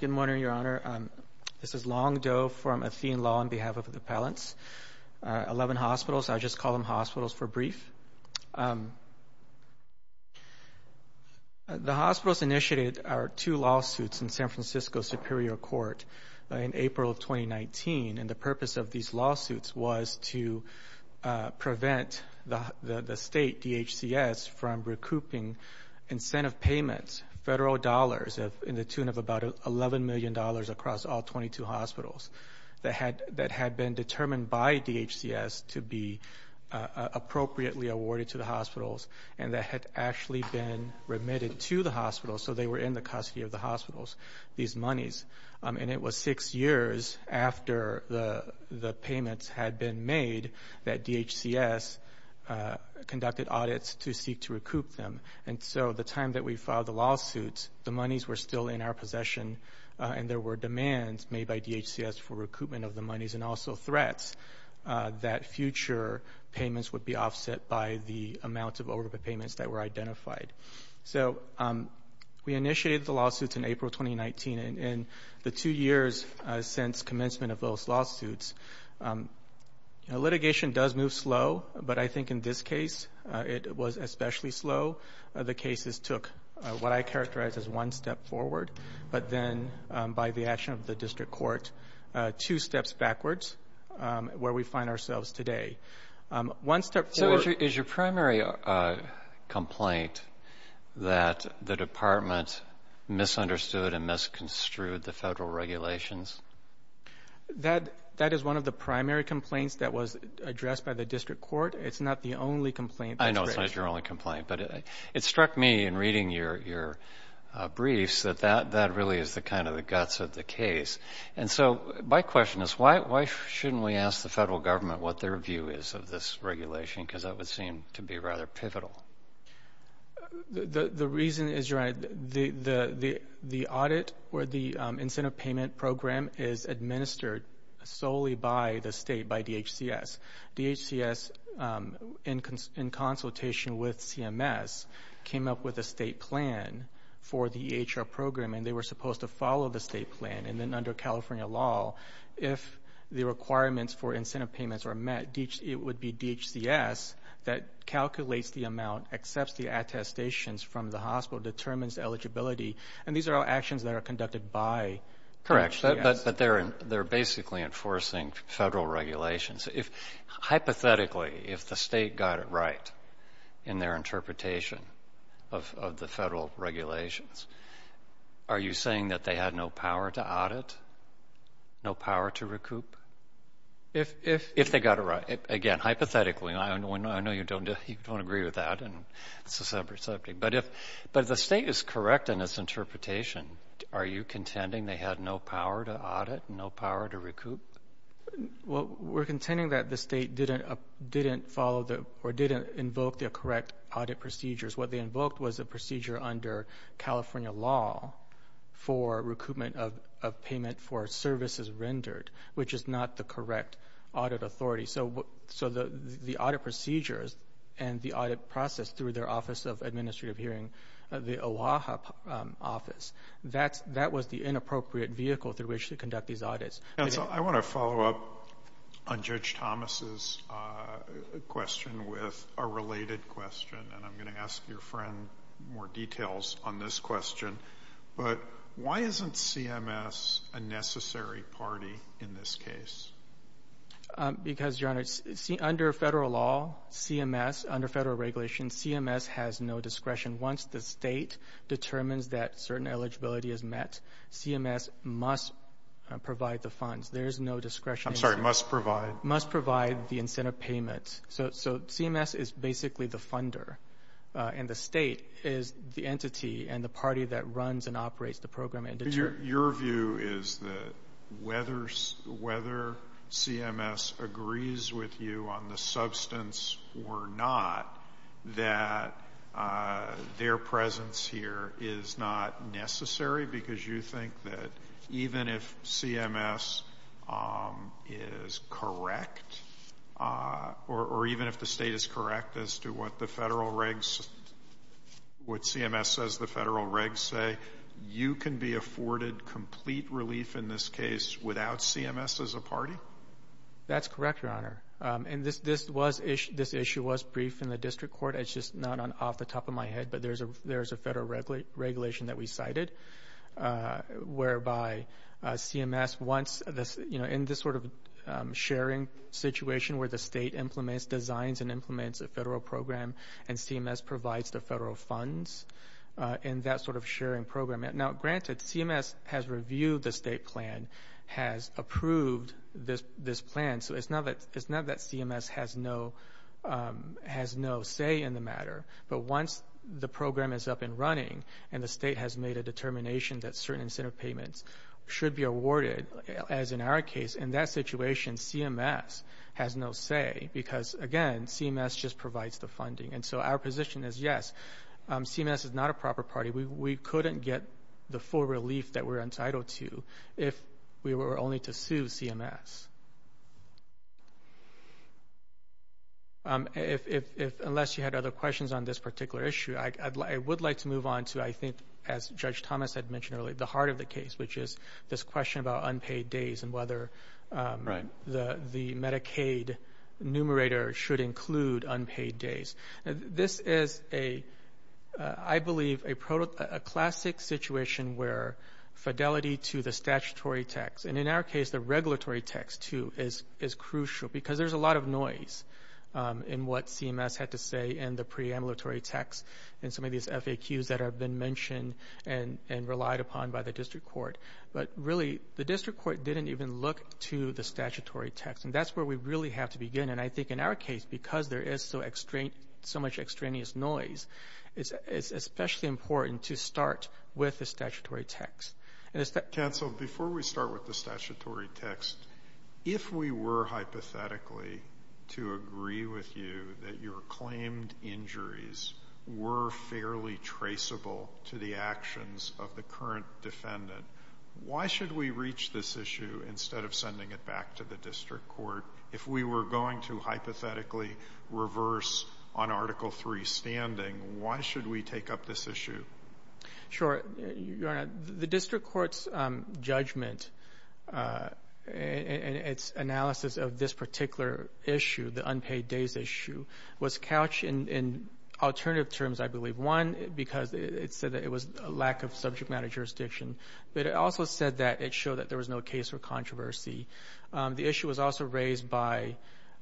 Good morning, Your Honor. This is Long Do from Athene Law on behalf of the appellants. Eleven hospitals, I just call them hospitals for brief. The hospitals initiated our two lawsuits in San Francisco Superior Court in April of 2019, and the purpose of these lawsuits was to prevent the state, DHCS, from recouping incentive payments, federal dollars in the tune of about $11 million across all 22 hospitals that had been determined by DHCS to be appropriately awarded to the hospitals and that had actually been remitted to the hospitals, so they were in the custody of the hospitals, these monies, and it was six years after the payments had been made that DHCS conducted audits to seek to recoup them, and so the time that we filed the lawsuits, the monies were still in our possession and there were demands made by DHCS for recoupment of the monies and also threats that future payments would be offset by the amount of overpayments that were identified. So we initiated the lawsuits in April 2019, and in the two years since commencement of those lawsuits, litigation does move slow, but I think in this case, it was especially slow. The cases took what I characterize as one step forward, but then by the action of the District Court, two steps backwards where we find ourselves today. So is your primary complaint that the Department misunderstood and misconstrued the federal regulations? That is one of the primary complaints that was addressed by the District Court. It's not the only complaint. I know it's not your only complaint, but it struck me in reading your briefs that that really is the guts of the case. And so my question is, why shouldn't we ask the federal government what their view is of this regulation, because that would seem to be rather pivotal. The reason is, Your Honor, the audit or the incentive payment program is administered solely by the state, by DHCS. DHCS, in consultation with CMS, came up with a state plan for the state plan, and then under California law, if the requirements for incentive payments are met, it would be DHCS that calculates the amount, accepts the attestations from the hospital, determines eligibility, and these are all actions that are conducted by DHCS. Correct, but they're basically enforcing federal regulations. Hypothetically, if the state got it right in their interpretation of the federal regulations, are you saying that they had no power to audit, no power to recoup? If they got it right. Again, hypothetically, I know you don't agree with that, and it's a separate subject, but if the state is correct in its interpretation, are you contending they had no power to audit, no power to recoup? Well, we're contending that the state didn't follow or didn't invoke the correct audit procedures. What they invoked was a procedure under California law for recoupment of payment for services rendered, which is not the correct audit authority. So the audit procedures and the audit process through their Office of Administrative Hearing, the OAHA office, that was the inappropriate vehicle through which to conduct these audits. I want to follow up on Judge Thomas's question with a related question, and I'm going to ask your friend more details on this question, but why isn't CMS a necessary party in this case? Because, Your Honor, under federal law, CMS, under federal regulations, CMS has no discretion. Once the state determines that certain eligibility is met, CMS must provide the funds. There's I'm sorry, must provide? Must provide the incentive payment. So CMS is basically the funder, and the state is the entity and the party that runs and operates the program and determines. Your view is that whether CMS agrees with you on the substance or not, that their presence here is not necessary because you think that even if CMS is correct, or even if the state is correct as to what the federal regs, what CMS says the federal regs say, you can be afforded complete relief in this case without CMS as a party? That's correct, Your Honor. And this issue was briefed in the district court. It's just not off the top of my head, but there's a federal regulation that we cited whereby CMS wants, you know, in this sort of sharing situation where the state implements, designs and implements a federal program, and CMS provides the federal funds in that sort of sharing program. Now, granted, CMS has reviewed the state plan, has approved this plan, so it's not that CMS has no say in the matter, but once the program is up and running and the state has made a determination that certain incentive payments should be awarded, as in our case, in that situation, CMS has no say because, again, CMS just provides the funding. And so our position is, yes, CMS is not a proper party. We couldn't get the full relief that we're entitled to if we were only to sue CMS. Unless you had other questions on this particular issue, I would like to move on to I think as Judge Thomas had mentioned earlier, the heart of the case, which is this question about unpaid days and whether the Medicaid numerator should include unpaid days. This is, I believe, a classic situation where fidelity to the statutory text, and in our case the regulatory text, too, is crucial because there's a lot of noise in what CMS had to say and the preambulatory text and some of these FAQs that have been mentioned and relied upon by the district court. But really, the district court didn't even look to the statutory text, and that's where we really have to begin. And I think in our case, because there is so much extraneous noise, it's especially important to start with the statutory text. And it's that... Counsel, before we start with the statutory text, if we were hypothetically to agree with you that your claimed injuries were fairly traceable to the actions of the current defendant, why should we reach this issue instead of sending it back to the district court? If we were going to hypothetically reverse on Article III standing, why should we take up this issue? Sure. Your Honor, the district court's judgment and its analysis of this particular issue, the unpaid days issue, was couched in alternative terms, I believe. One, because it said that it was a lack of subject matter jurisdiction, but it also said that it showed that there was no case for controversy. The issue was also raised by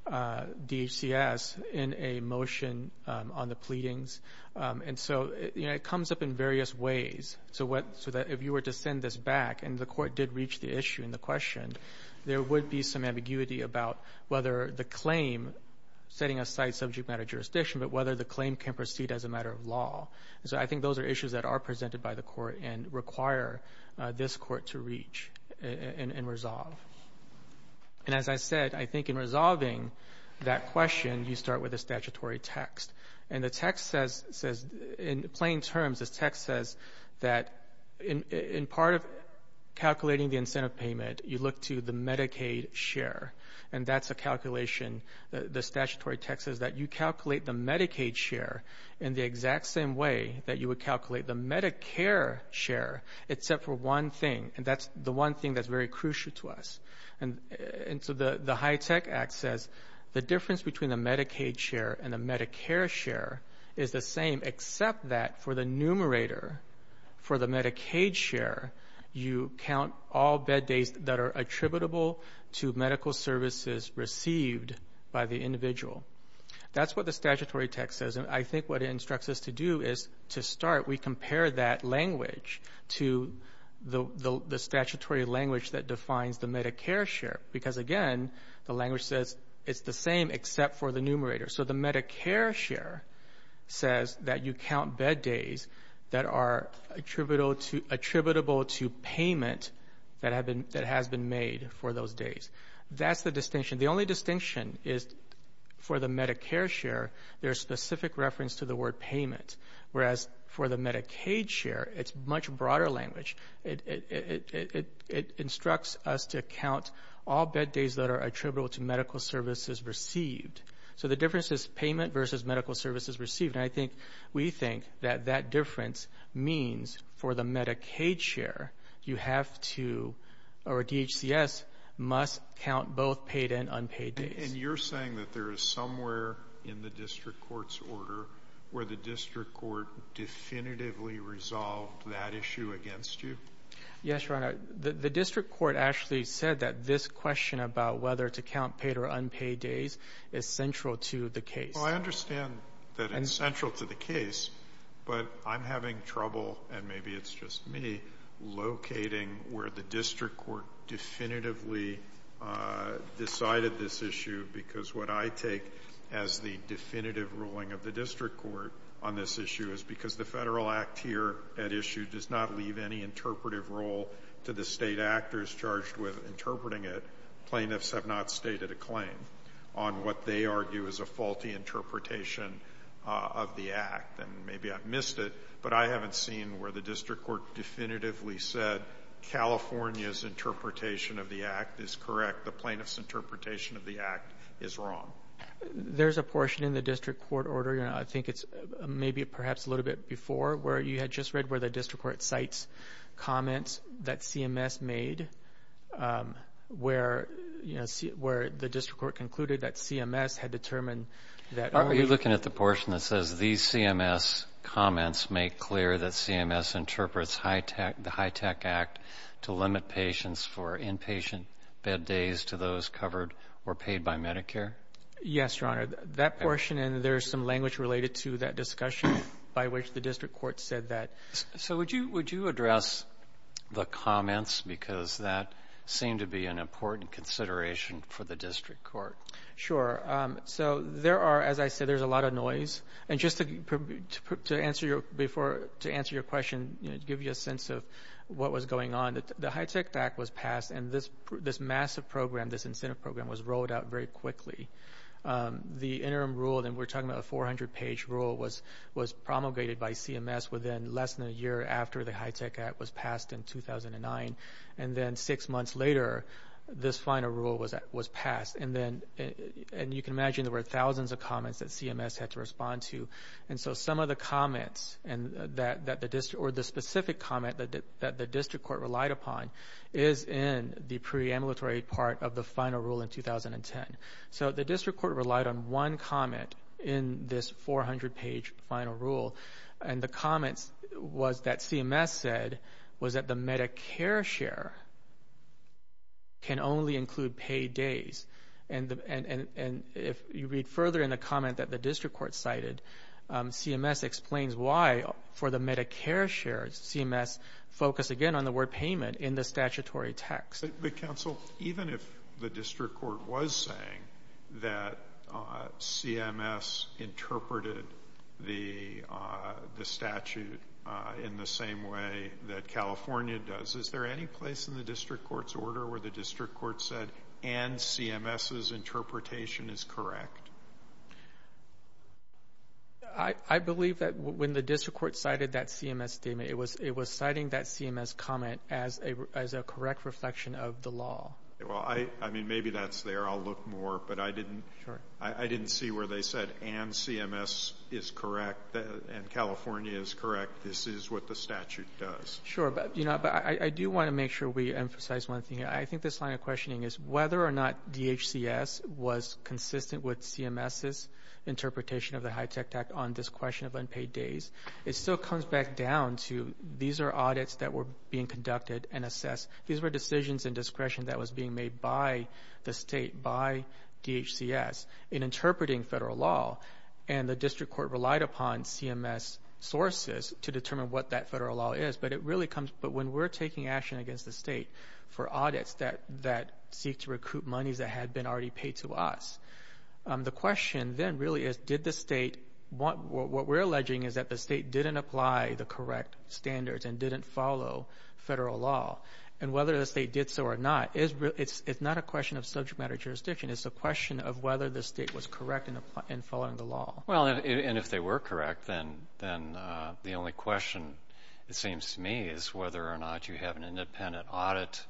DHCS in a motion on the pleadings. And so, you know, it comes up in various ways. So if you were to send this back, and the court did reach the issue and the question, there would be some ambiguity about whether the claim, setting aside subject matter jurisdiction, but whether the claim can proceed as a matter of law. So I think those are issues that are presented by the court and require this court to reach and resolve. And as I said, I think in resolving that question, you start with the statutory text. And the text says, in plain terms, the text says that in part of calculating the incentive payment, you look to the Medicaid share. And that's a calculation. The statutory text says that you calculate the Medicaid share in the exact same way that you would calculate the Medicare share, except for one thing. And that's the one thing that's very crucial to us. And so the HITECH Act says the difference between the Medicaid share and the Medicare share is the same, except that for the numerator, for the Medicaid share, you count all bed days that are attributable to medical services received by the individual. That's what the statutory text says. And I think what it instructs us to do is to start, we compare that language to the statutory language that defines the Medicare share. Because again, the language says it's the same except for the numerator. So the Medicare share says that you count bed days that are attributable to payment that has been made for those days. That's the distinction. The only distinction is for the Medicare share, there's specific reference to the word payment. Whereas for the Medicaid share, it's much broader language. It instructs us to count all bed days that are attributable to medical services received. So the difference is payment versus medical services received. And I think we think that that difference means for the Medicaid share, you have to, or DHCS, must count both paid and unpaid days. And you're saying that there is somewhere in the district court's order where the district court definitively resolved that issue against you? Yes, Your Honor. The district court actually said that this question about whether to count paid or unpaid days is central to the case. Well, I understand that it's central to the case, but I'm having trouble, and maybe it's just me, locating where the district court definitively decided this issue, because what I take as the definitive ruling of the district court on this issue is because the Federal Act here at issue does not leave any interpretive role to the claim on what they argue is a faulty interpretation of the Act. And maybe I've missed it, but I haven't seen where the district court definitively said California's interpretation of the Act is correct, the plaintiff's interpretation of the Act is wrong. There's a portion in the district court order, Your Honor, I think it's maybe perhaps a little bit before, where you had just read where the district court cites comments that CMS made, where the district court concluded that CMS had determined that... Are you looking at the portion that says these CMS comments make clear that CMS interprets the HITECH Act to limit patients for inpatient bed days to those covered or paid by Medicare? Yes, Your Honor. That portion, and there's some language related to that discussion by which the district court said that. So would you address the comments because that seemed to be an important consideration for the district court? Sure. So there are, as I said, there's a lot of noise. And just to answer your question, give you a sense of what was going on, the HITECH Act was passed and this massive program, this incentive program, was rolled out very quickly. The interim rule, and we're talking about a 400-page rule, was promulgated by CMS within less than a year after the HITECH Act was passed in 2009. And then six months later, this final rule was passed. And you can imagine there were thousands of comments that CMS had to respond to. And so some of the comments, or the specific comment that the district court relied upon, is in the preambulatory part of the final rule in 2010. So the district court relied on one comment in this 400-page final rule. And the comments was that CMS said was that the Medicare share can only include paid days. And if you read further in the comment that the district court cited, CMS explains why for the Medicare share, CMS focused again on the word payment in the statutory text. But counsel, even if the district court was saying that CMS interpreted the statute in the same way that California does, is there any place in the district court's order where the district court said, and CMS's interpretation is correct? I believe that when the district court cited that CMS statement, it was citing that CMS comment as a correct reflection of the law. Well, I mean, maybe that's there. I'll look more. But I didn't see where they said, and CMS is correct, and California is correct. This is what the statute does. Sure. But I do want to make sure we emphasize one thing. I think this line of questioning is whether or not DHCS was consistent with CMS's interpretation of the HITECH Act on discretion of unpaid days. It still comes back down to these are audits that were being conducted and assessed. These were decisions and discretion that was being made by the state, by DHCS, in interpreting federal law. And the district court relied upon CMS sources to determine what that federal law is. But when we're taking action against the state for audits that seek to recoup monies that had been already paid to us, the question then really is, did the state, what we're alleging is that the state didn't apply the correct standards and didn't follow federal law. And whether the state did so or not, it's not a question of subject matter jurisdiction. It's a question of whether the state was correct in following the law. Well, and if they were correct, then the only question, it seems to me, is whether or not you have an independent audit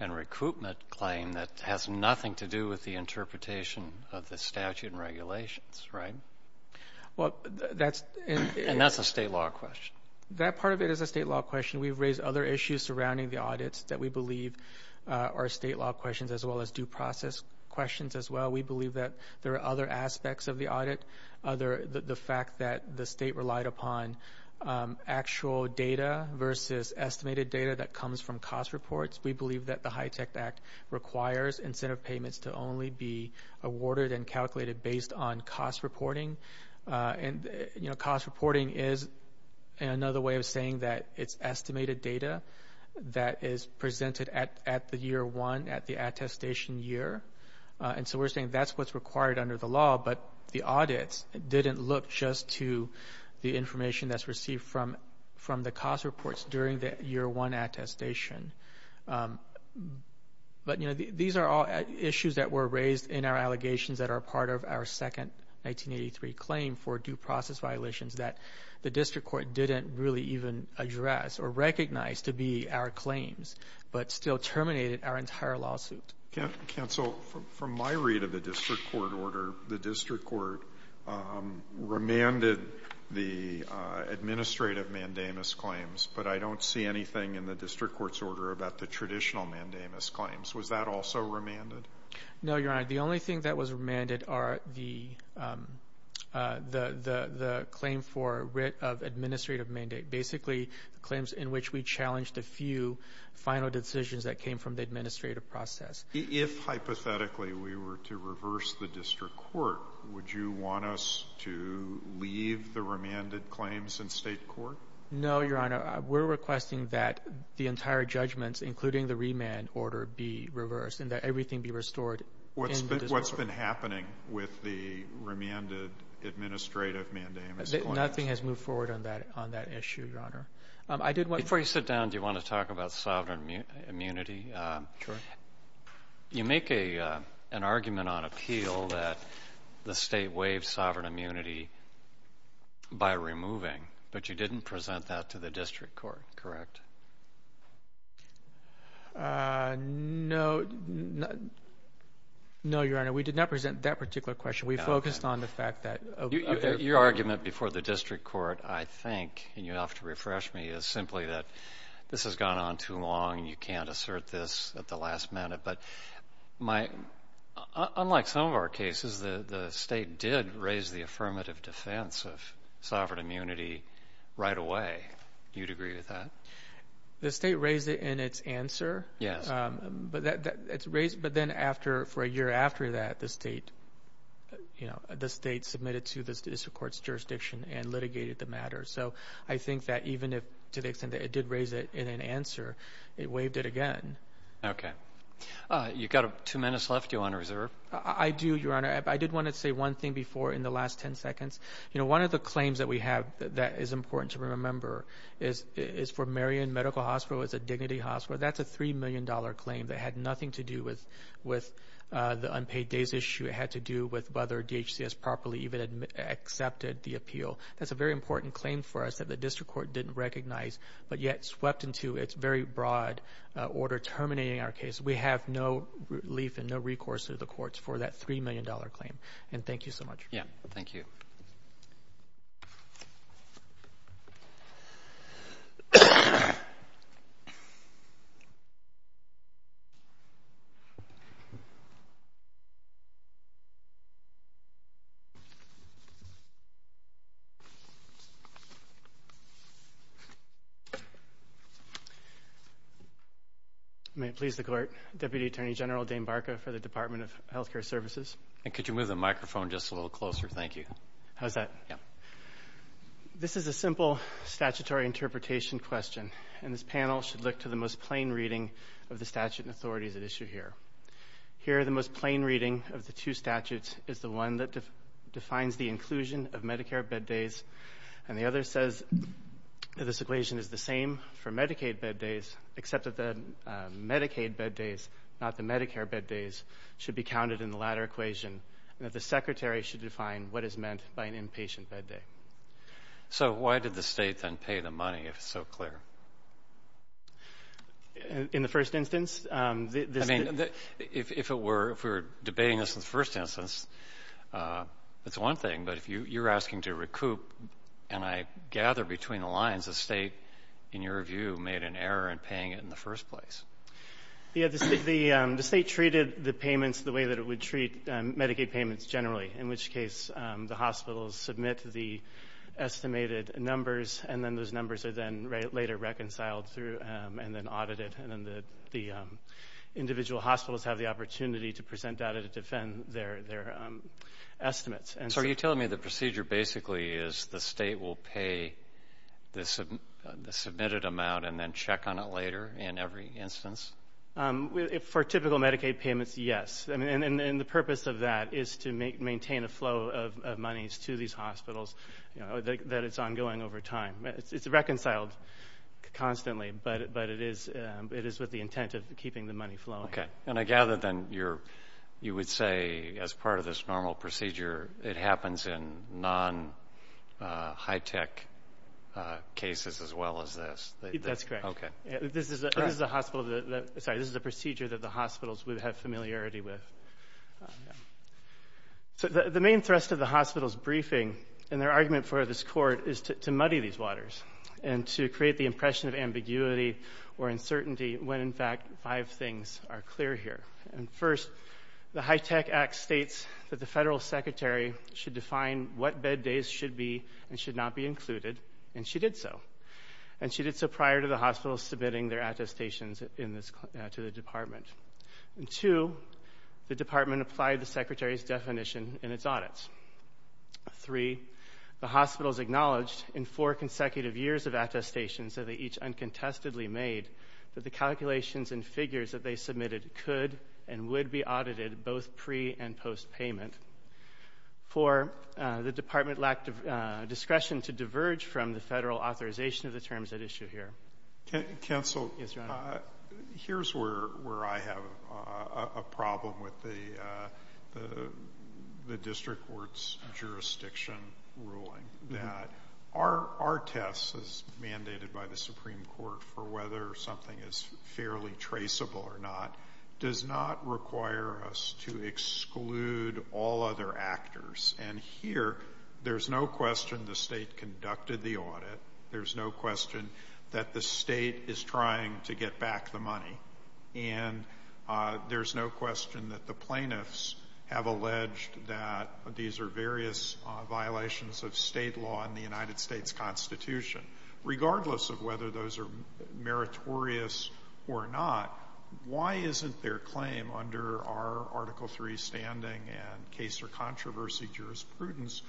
and recoupment claim that has nothing to do with the interpretation of the statute and regulations, right? Well, that's... And that's a state law question. That part of it is a state law question. We've raised other issues surrounding the audits that we believe are state law questions as well as due process questions as well. We believe that there are other aspects of the audit, the fact that the state relied upon actual data versus estimated data that comes from cost reports. We believe that the HITECH Act requires incentive payments to only be awarded and calculated based on cost reporting. And cost reporting is another way of saying that it's estimated data that is presented at the year one, at the attestation year. And so we're saying that's what's required under the law, but the audits didn't look just to the information that's received from the cost reports during the year one attestation. But, you know, these are all issues that were raised in our allegations that are part of our second 1983 claim for due process violations that the district court didn't really even address or recognize to be our claims, but still terminated our entire lawsuit. Counsel, from my read of the district court order, the district court remanded the administrative mandamus claims, but I don't see anything in the district court's order about the traditional mandamus claims. Was that also remanded? No, Your Honor. The only thing that was remanded are the claim for writ of administrative mandate. Basically, the claims in which we challenged a few final decisions that came from the administrative process. If hypothetically we were to reverse the district court, would you want us to leave the remanded claims in state court? No, Your Honor. We're requesting that the entire judgments, including the remand order, be reversed and that everything be restored in the district court. What's been happening with the remanded administrative mandamus claim? Nothing has moved forward on that issue, Your Honor. Before you sit down, do you want to talk about sovereign immunity? Sure. You make an argument on appeal that the state waived sovereign immunity by removing, but you didn't present that to the district court, correct? No, Your Honor. We did not present that particular question. We focused on the fact that... Your argument before the district court, I think, and you'll have to refresh me, is simply that this has gone on too long and you can't assert this at the last minute. Unlike some of our cases, the state did raise the affirmative defense of sovereign immunity right away. Do you agree with that? The state raised it in its answer, but then for a year after that, the state submitted to the district court's jurisdiction and litigated the matter. I think that even to the extent that it did raise it in an answer, it waived it again. You've got two minutes left, Your Honor. Is there... I do, Your Honor. I did want to say one thing before in the last 10 seconds. One of the claims that we have that is important to remember is for Marion Medical Hospital. It's a dignity hospital. That's a $3 million claim that had nothing to do with the unpaid days issue. It had to do with whether DHCS properly even accepted the appeal. That's a very important claim for us that the district court didn't recognize, but yet swept into its very broad order, terminating our case. We have no relief and no recourse to the courts for that $3 million claim. Thank you so much. May it please the court, Deputy Attorney General Dane Barker for the Department of Health Care Services. Could you move the microphone just a little closer? Thank you. How's that? This is a simple statutory interpretation question, and this panel should look to the most plain reading of the statute and authorities at issue here. Here the most plain reading of the two statutes is the one that defines the inclusion of Medicare bed days, and the other says that this equation is the same for Medicaid bed days, except that the Medicaid bed days, not the Medicare bed days, should be counted in the latter equation, and that the secretary should define what is meant by an inpatient bed day. So why did the state then pay the money, if it's so clear? In the first instance, this... I mean, if we were debating this in the first instance, it's one thing, but if you're asking to recoup, and I gather between the lines, the state, in your view, made an error in paying it in the first place. Yeah, the state treated the payments the way that it would treat Medicaid payments generally, in which case the hospitals submit the estimated numbers, and then those numbers are then later reconciled through and then audited, and then the individual hospitals have the opportunity to present data to defend their estimates. So are you telling me the procedure basically is the state will pay the submitted amount and then check on it later in every instance? For typical Medicaid payments, yes, and the purpose of that is to maintain a flow of monies to these hospitals, that it's ongoing over time. It's reconciled constantly, but it is with the intent of keeping the money flowing. Okay, and I gather then you would say as part of this normal procedure, it happens in non-high-tech cases as well as this? That's correct. Okay. This is a procedure that the hospitals would have familiarity with. The main thrust of the hospital's briefing and their argument for this court is to muddy these waters and to create the impression of ambiguity or uncertainty when in fact five things are clear here, and first, the HITECH Act states that the federal secretary should define what bed days should be and should not be included, and she did so, and she did so prior to the hospitals submitting their attestations to the department, and two, the department applied the secretary's definition in its audits, three, the hospitals acknowledged in four consecutive years of attestations that they each uncontestedly made that the they submitted could and would be audited both pre- and post-payment. For the department lacked discretion to diverge from the federal authorization of the terms at issue here. Counsel, here's where I have a problem with the district court's jurisdiction ruling, that our test, as mandated by the Supreme Court for whether something is fairly traceable or not, does not require us to exclude all other actors, and here, there's no question the state conducted the audit, there's no question that the state is trying to get back the money, and there's no question that the plaintiffs have alleged that these are various violations of state law in the United States Constitution. Regardless of whether those are meritorious or not, why isn't their claim under our Article 3 standing and case or controversy jurisprudence,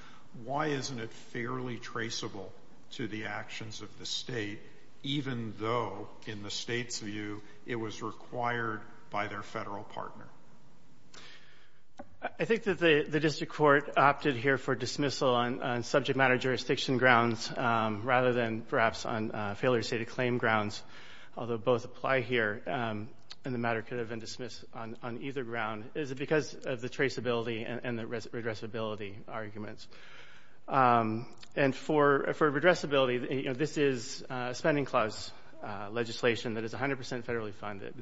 why isn't it fairly traceable to the actions of the state, even though, in the state's view, it was required by their federal partner? I think that the district court opted here for dismissal on subject matter jurisdiction grounds rather than, perhaps, on failure to state a claim grounds, although both apply here and the matter could have been dismissed on either ground, is because of the traceability and the redressability arguments. And for redressability, this is a spending clause legislation that is 100 percent federally funded,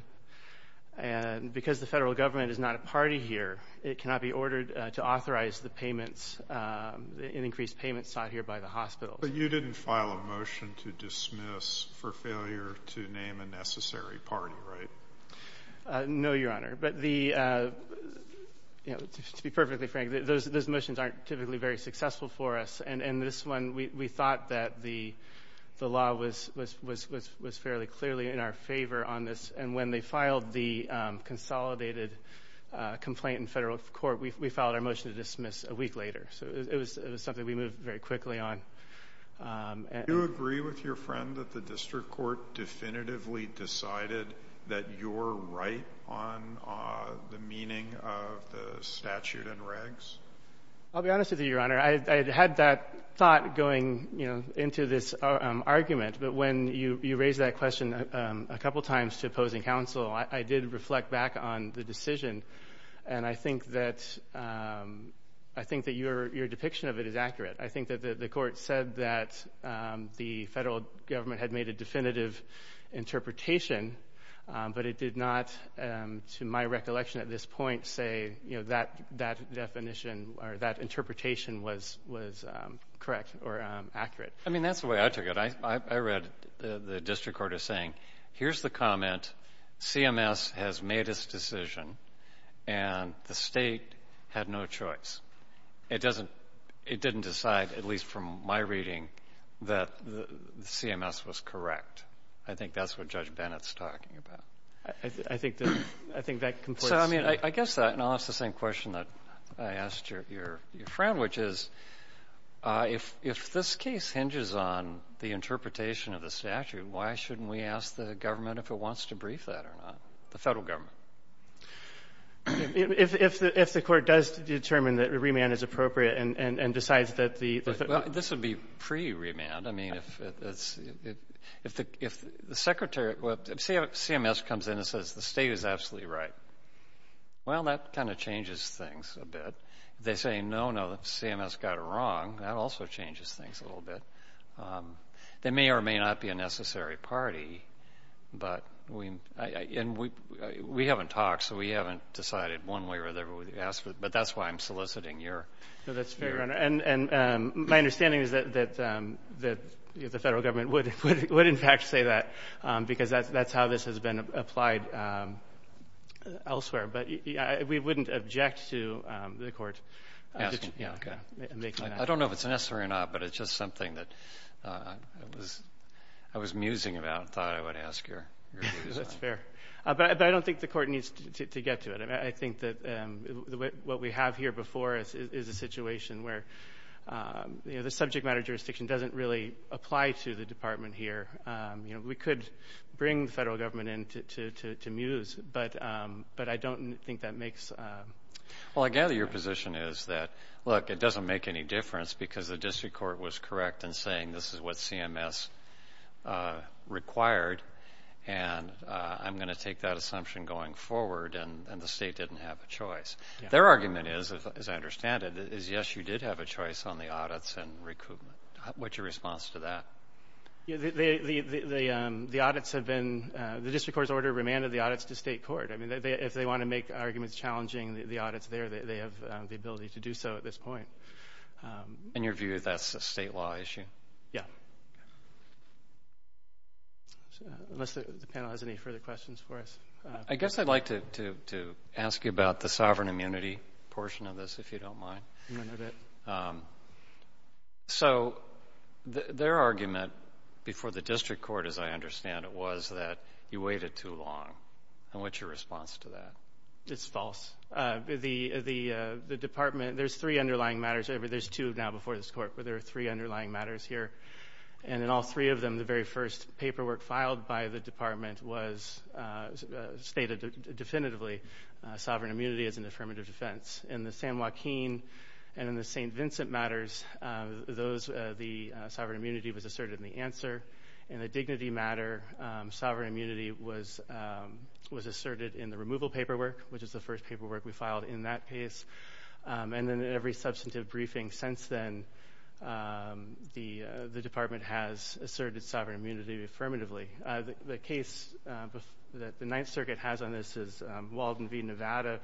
and because the federal government is not a party here, it cannot be ordered to authorize the payments, the increased payments sought here by the hospitals. But you didn't file a motion to dismiss for failure to name a necessary party, right? No, Your Honor, but the, to be perfectly frank, those motions aren't typically very successful for us, and this one, we thought that the law was fairly clearly in our favor on this and when they filed the consolidated complaint in federal court, we filed our motion to dismiss a week later. So it was something we moved very quickly on. Do you agree with your friend that the district court definitively decided that you're right on the meaning of the statute and regs? I'll be honest with you, Your Honor, I had that thought going, you know, into this argument, but when you raised that question a couple times to opposing counsel, I did reflect back on the decision, and I think that, I think that your depiction of it is accurate. I think that the court said that the federal government had made a definitive interpretation, but it did not, to my recollection at this point, say, you know, that definition or that interpretation was correct or accurate. I mean, that's the way I took it. I read the district court as saying, here's the comment, CMS has made its decision, and the state had no choice. It doesn't, it didn't decide, at least from my reading, that CMS was correct. I think that's what Judge Bennett's talking about. I think that, I think that completes. So, I mean, I guess that, and I'll ask the same question that I asked your friend, which is, if this case hinges on the interpretation of the statute, why shouldn't we ask the government if it wants to brief that or not, the federal government? If the court does determine that remand is appropriate and decides that the... This would be pre-remand. I mean, if the secretary, if CMS comes in and says the state is absolutely right, well, that kind of changes things a bit. If they say, no, no, CMS got it wrong, that also changes things a little bit. They may or may not be a necessary party, but we, and we haven't talked, so we haven't decided one way or the other, but that's why I'm soliciting your... No, that's fair, Your Honor, and my understanding is that the federal government would in fact say that, because that's how this has been applied elsewhere, but we wouldn't object to the court making that. I don't know if it's necessary or not, but it's just something that I was musing about and thought I would ask your views on. That's fair, but I don't think the court needs to get to it. I think that what we have here before us is a situation where the subject matter jurisdiction doesn't really apply to the department here. We could bring the federal government in to muse, but I don't think that makes... Well, I gather your position is that, look, it doesn't make any difference because the district court was correct in saying this is what CMS required, and I'm going to take that assumption going forward, and the state didn't have a choice. Their argument is, as I understand it, is yes, you did have a choice on the audits and recoupment. What's your response to that? The audits have been... The district court's order remanded the audits to state court. I mean, if they want to make arguments challenging the audits there, they have the ability to do so at this point. In your view, that's a state law issue? Yeah. Unless the panel has any further questions for us. I guess I'd like to ask you about the sovereign immunity portion of this, if you don't mind. I'm going to move it. So their argument before the district court, as I understand it, was that you waited too long. And what's your response to that? It's false. The department... There's three underlying matters. There's two now before this court, but there are three underlying matters here. And in all three of them, the very first paperwork filed by the department was stated definitively sovereign immunity is an affirmative defense. In the San Joaquin and in the St. Vincent matters, the sovereign immunity was asserted in the answer. In the dignity matter, sovereign immunity was asserted in the removal paperwork, which is the first paperwork we filed in that case. And in every substantive briefing since then, the department has asserted sovereign immunity affirmatively. The case that the Ninth Circuit has on this is Walden v. Nevada,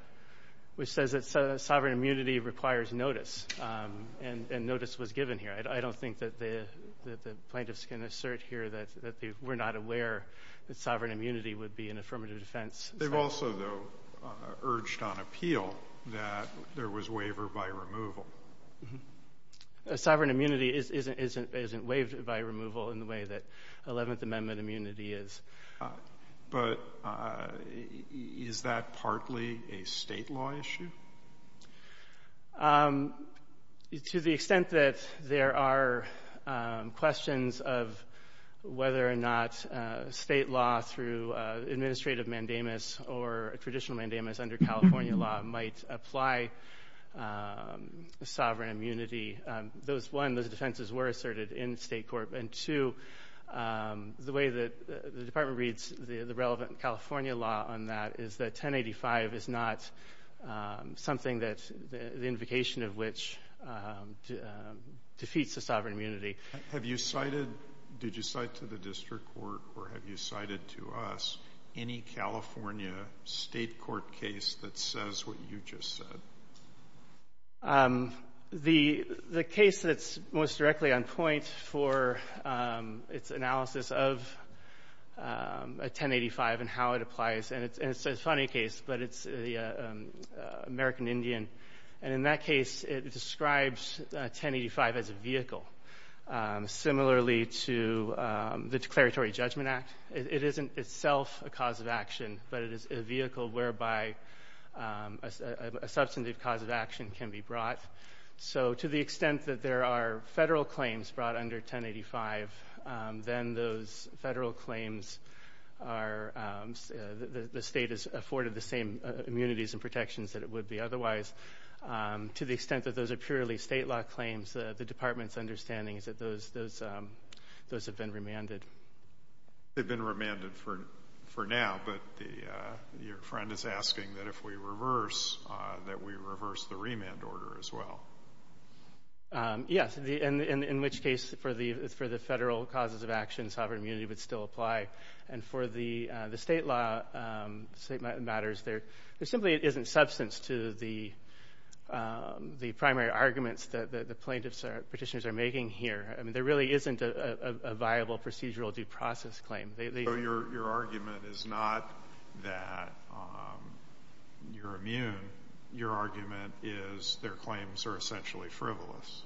which says that sovereign immunity requires notice. And notice was given here. I don't think that the plaintiffs can assert here that they were not aware that sovereign immunity would be an affirmative defense. They've also, though, urged on appeal that there was waiver by removal. Sovereign immunity isn't waived by removal in the way that 11th Amendment immunity is. But is that partly a state law issue? To the extent that there are questions of whether or not state law through administrative mandamus or a traditional mandamus under California law might apply sovereign immunity, those, one, those defenses were asserted in state court, and two, the way that the department reads the relevant California law on that is that 1085 is not something that the invocation of which defeats the sovereign immunity. Have you cited, did you cite to the district court or have you cited to us any California state court case that says what you just said? The case that's most directly on point for its analysis of a 1085 and how it applies, and it's a funny case, but it's the American Indian. And in that case, it describes 1085 as a vehicle, similarly to the Declaratory Judgment Act. It isn't itself a cause of action, but it is a vehicle whereby a substantive cause of action can be brought. So to the extent that there are federal claims brought under 1085, then those federal claims are, the state is afforded the same immunities and protections that it would be otherwise. To the extent that those are purely state law claims, the department's understanding is that those have been remanded. They've been remanded for now, but your friend is asking that if we reverse, that we reverse the remand order as well. Yes, in which case, for the federal causes of action, sovereign immunity would still apply. And for the state law matters, there simply isn't substance to the primary arguments that the plaintiffs or petitioners are making here. I mean, there really isn't a viable procedural due process claim. So your argument is not that you're immune. Your argument is their claims are essentially frivolous.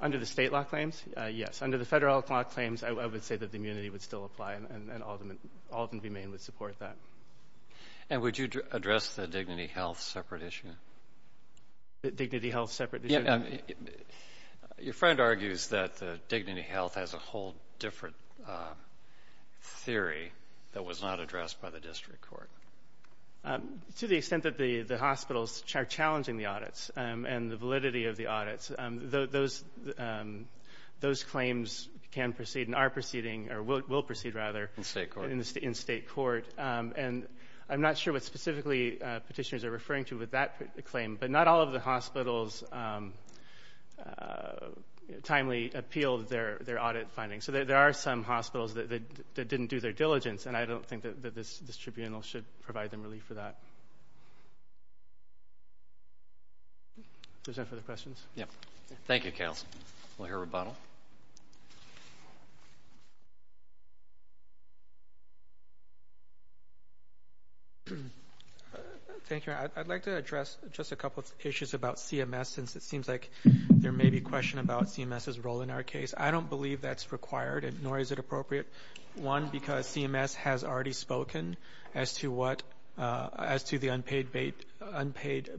Under the state law claims, yes. Under the federal law claims, I would say that the immunity would still apply, and Alden v. Maine would support that. And would you address the dignity health separate issue? Dignity health separate issue? Your friend argues that dignity health has a whole different theory that was not addressed by the district court. To the extent that the hospitals are challenging the audits and the validity of the audits, those claims can proceed and are proceeding, or will proceed, rather, in state court. And I'm not sure what specifically petitioners are referring to with that claim, but not all of the hospitals timely appealed their audit findings. So there are some hospitals that didn't do their diligence, and I don't think that this tribunal should provide them relief for that. Does anyone have further questions? Thank you, counsel. We'll hear rebuttal. Thank you. I'd like to address just a couple issues about CMS, since it seems like there may be a question about CMS's role in our case. I don't believe that's required, nor is it appropriate, one, because CMS has already spoken as to what, as to the unpaid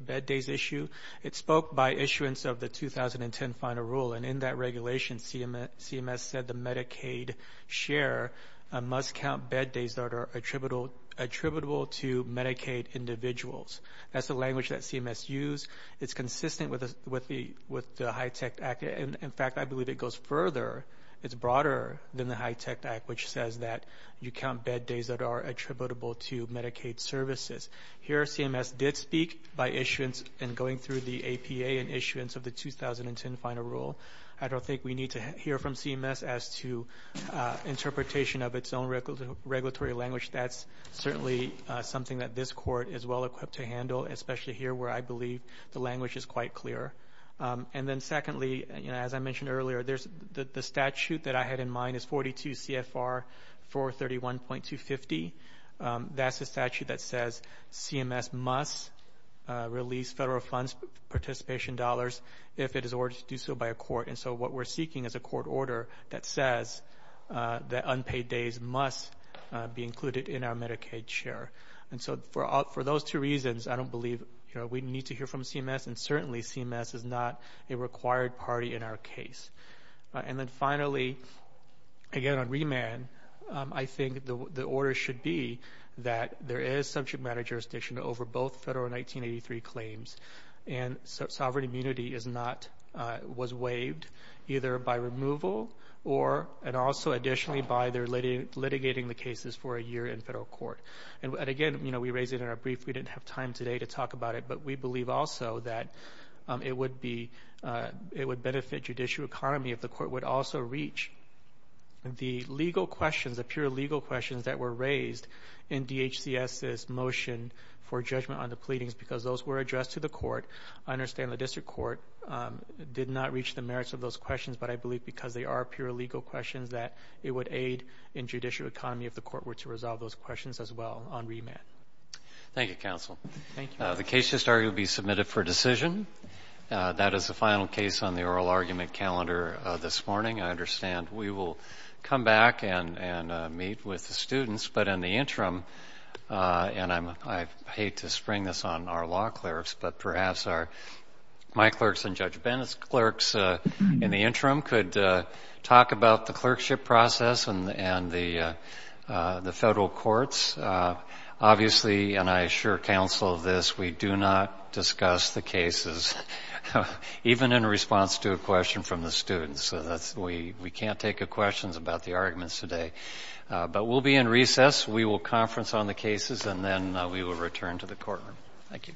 bed days issue. It spoke by issuance of the 2010 final rule, and in that regulation, CMS said the Medicaid share must count bed days that are attributable to Medicaid individuals. That's the language that CMS used. It's consistent with the HITECH Act, and in fact, I believe it goes further. It's broader than the HITECH Act, which says that you count bed days that are attributable to Medicaid services. Here CMS did speak by issuance and going through the APA and issuance of the 2010 final rule. I don't think we need to hear from CMS as to interpretation of its own regulatory language. That's certainly something that this court is well-equipped to handle, especially here where I believe the language is quite clear. And then secondly, as I mentioned earlier, the statute that I had in mind is 42 CFR 431.250. That's the statute that says CMS must release federal funds participation dollars if it is ordered to do so by a court, and so what we're seeking is a court order that says that unpaid days must be included in our Medicaid share. And so for those two reasons, I don't believe we need to hear from CMS, and certainly CMS is not a required party in our case. And then finally, again on remand, I think the order should be that there is subject matter jurisdiction over both federal and 1983 claims, and sovereign immunity was waived either by removal and also additionally by their litigating the cases for a year in federal court. And again, we raised it in our brief. We didn't have time today to talk about it, but we believe also that it would benefit judicial economy if the court would also reach the legal questions, the pure legal questions that were raised in DHCS's motion for judgment on the pleadings because those were addressed to the court. I understand the district court did not reach the merits of those questions, but I believe because they are pure legal questions that it would aid in judicial economy if the court were to resolve those questions as well on remand. Thank you, counsel. The case history will be submitted for decision. That is the final case on the oral argument calendar this morning. I understand we will come back and meet with the students, but in the interim, and I hate to spring this on our law clerks, but perhaps my clerks and Judge Bennett's clerks in the interim could talk about the clerkship process and the federal courts. Obviously, and I assure counsel of this, we do not discuss the cases, even in response to a question from the students. We can't take questions about the arguments today, but we'll be in recess. We will conference on the cases, and then we will return to the courtroom. Thank you.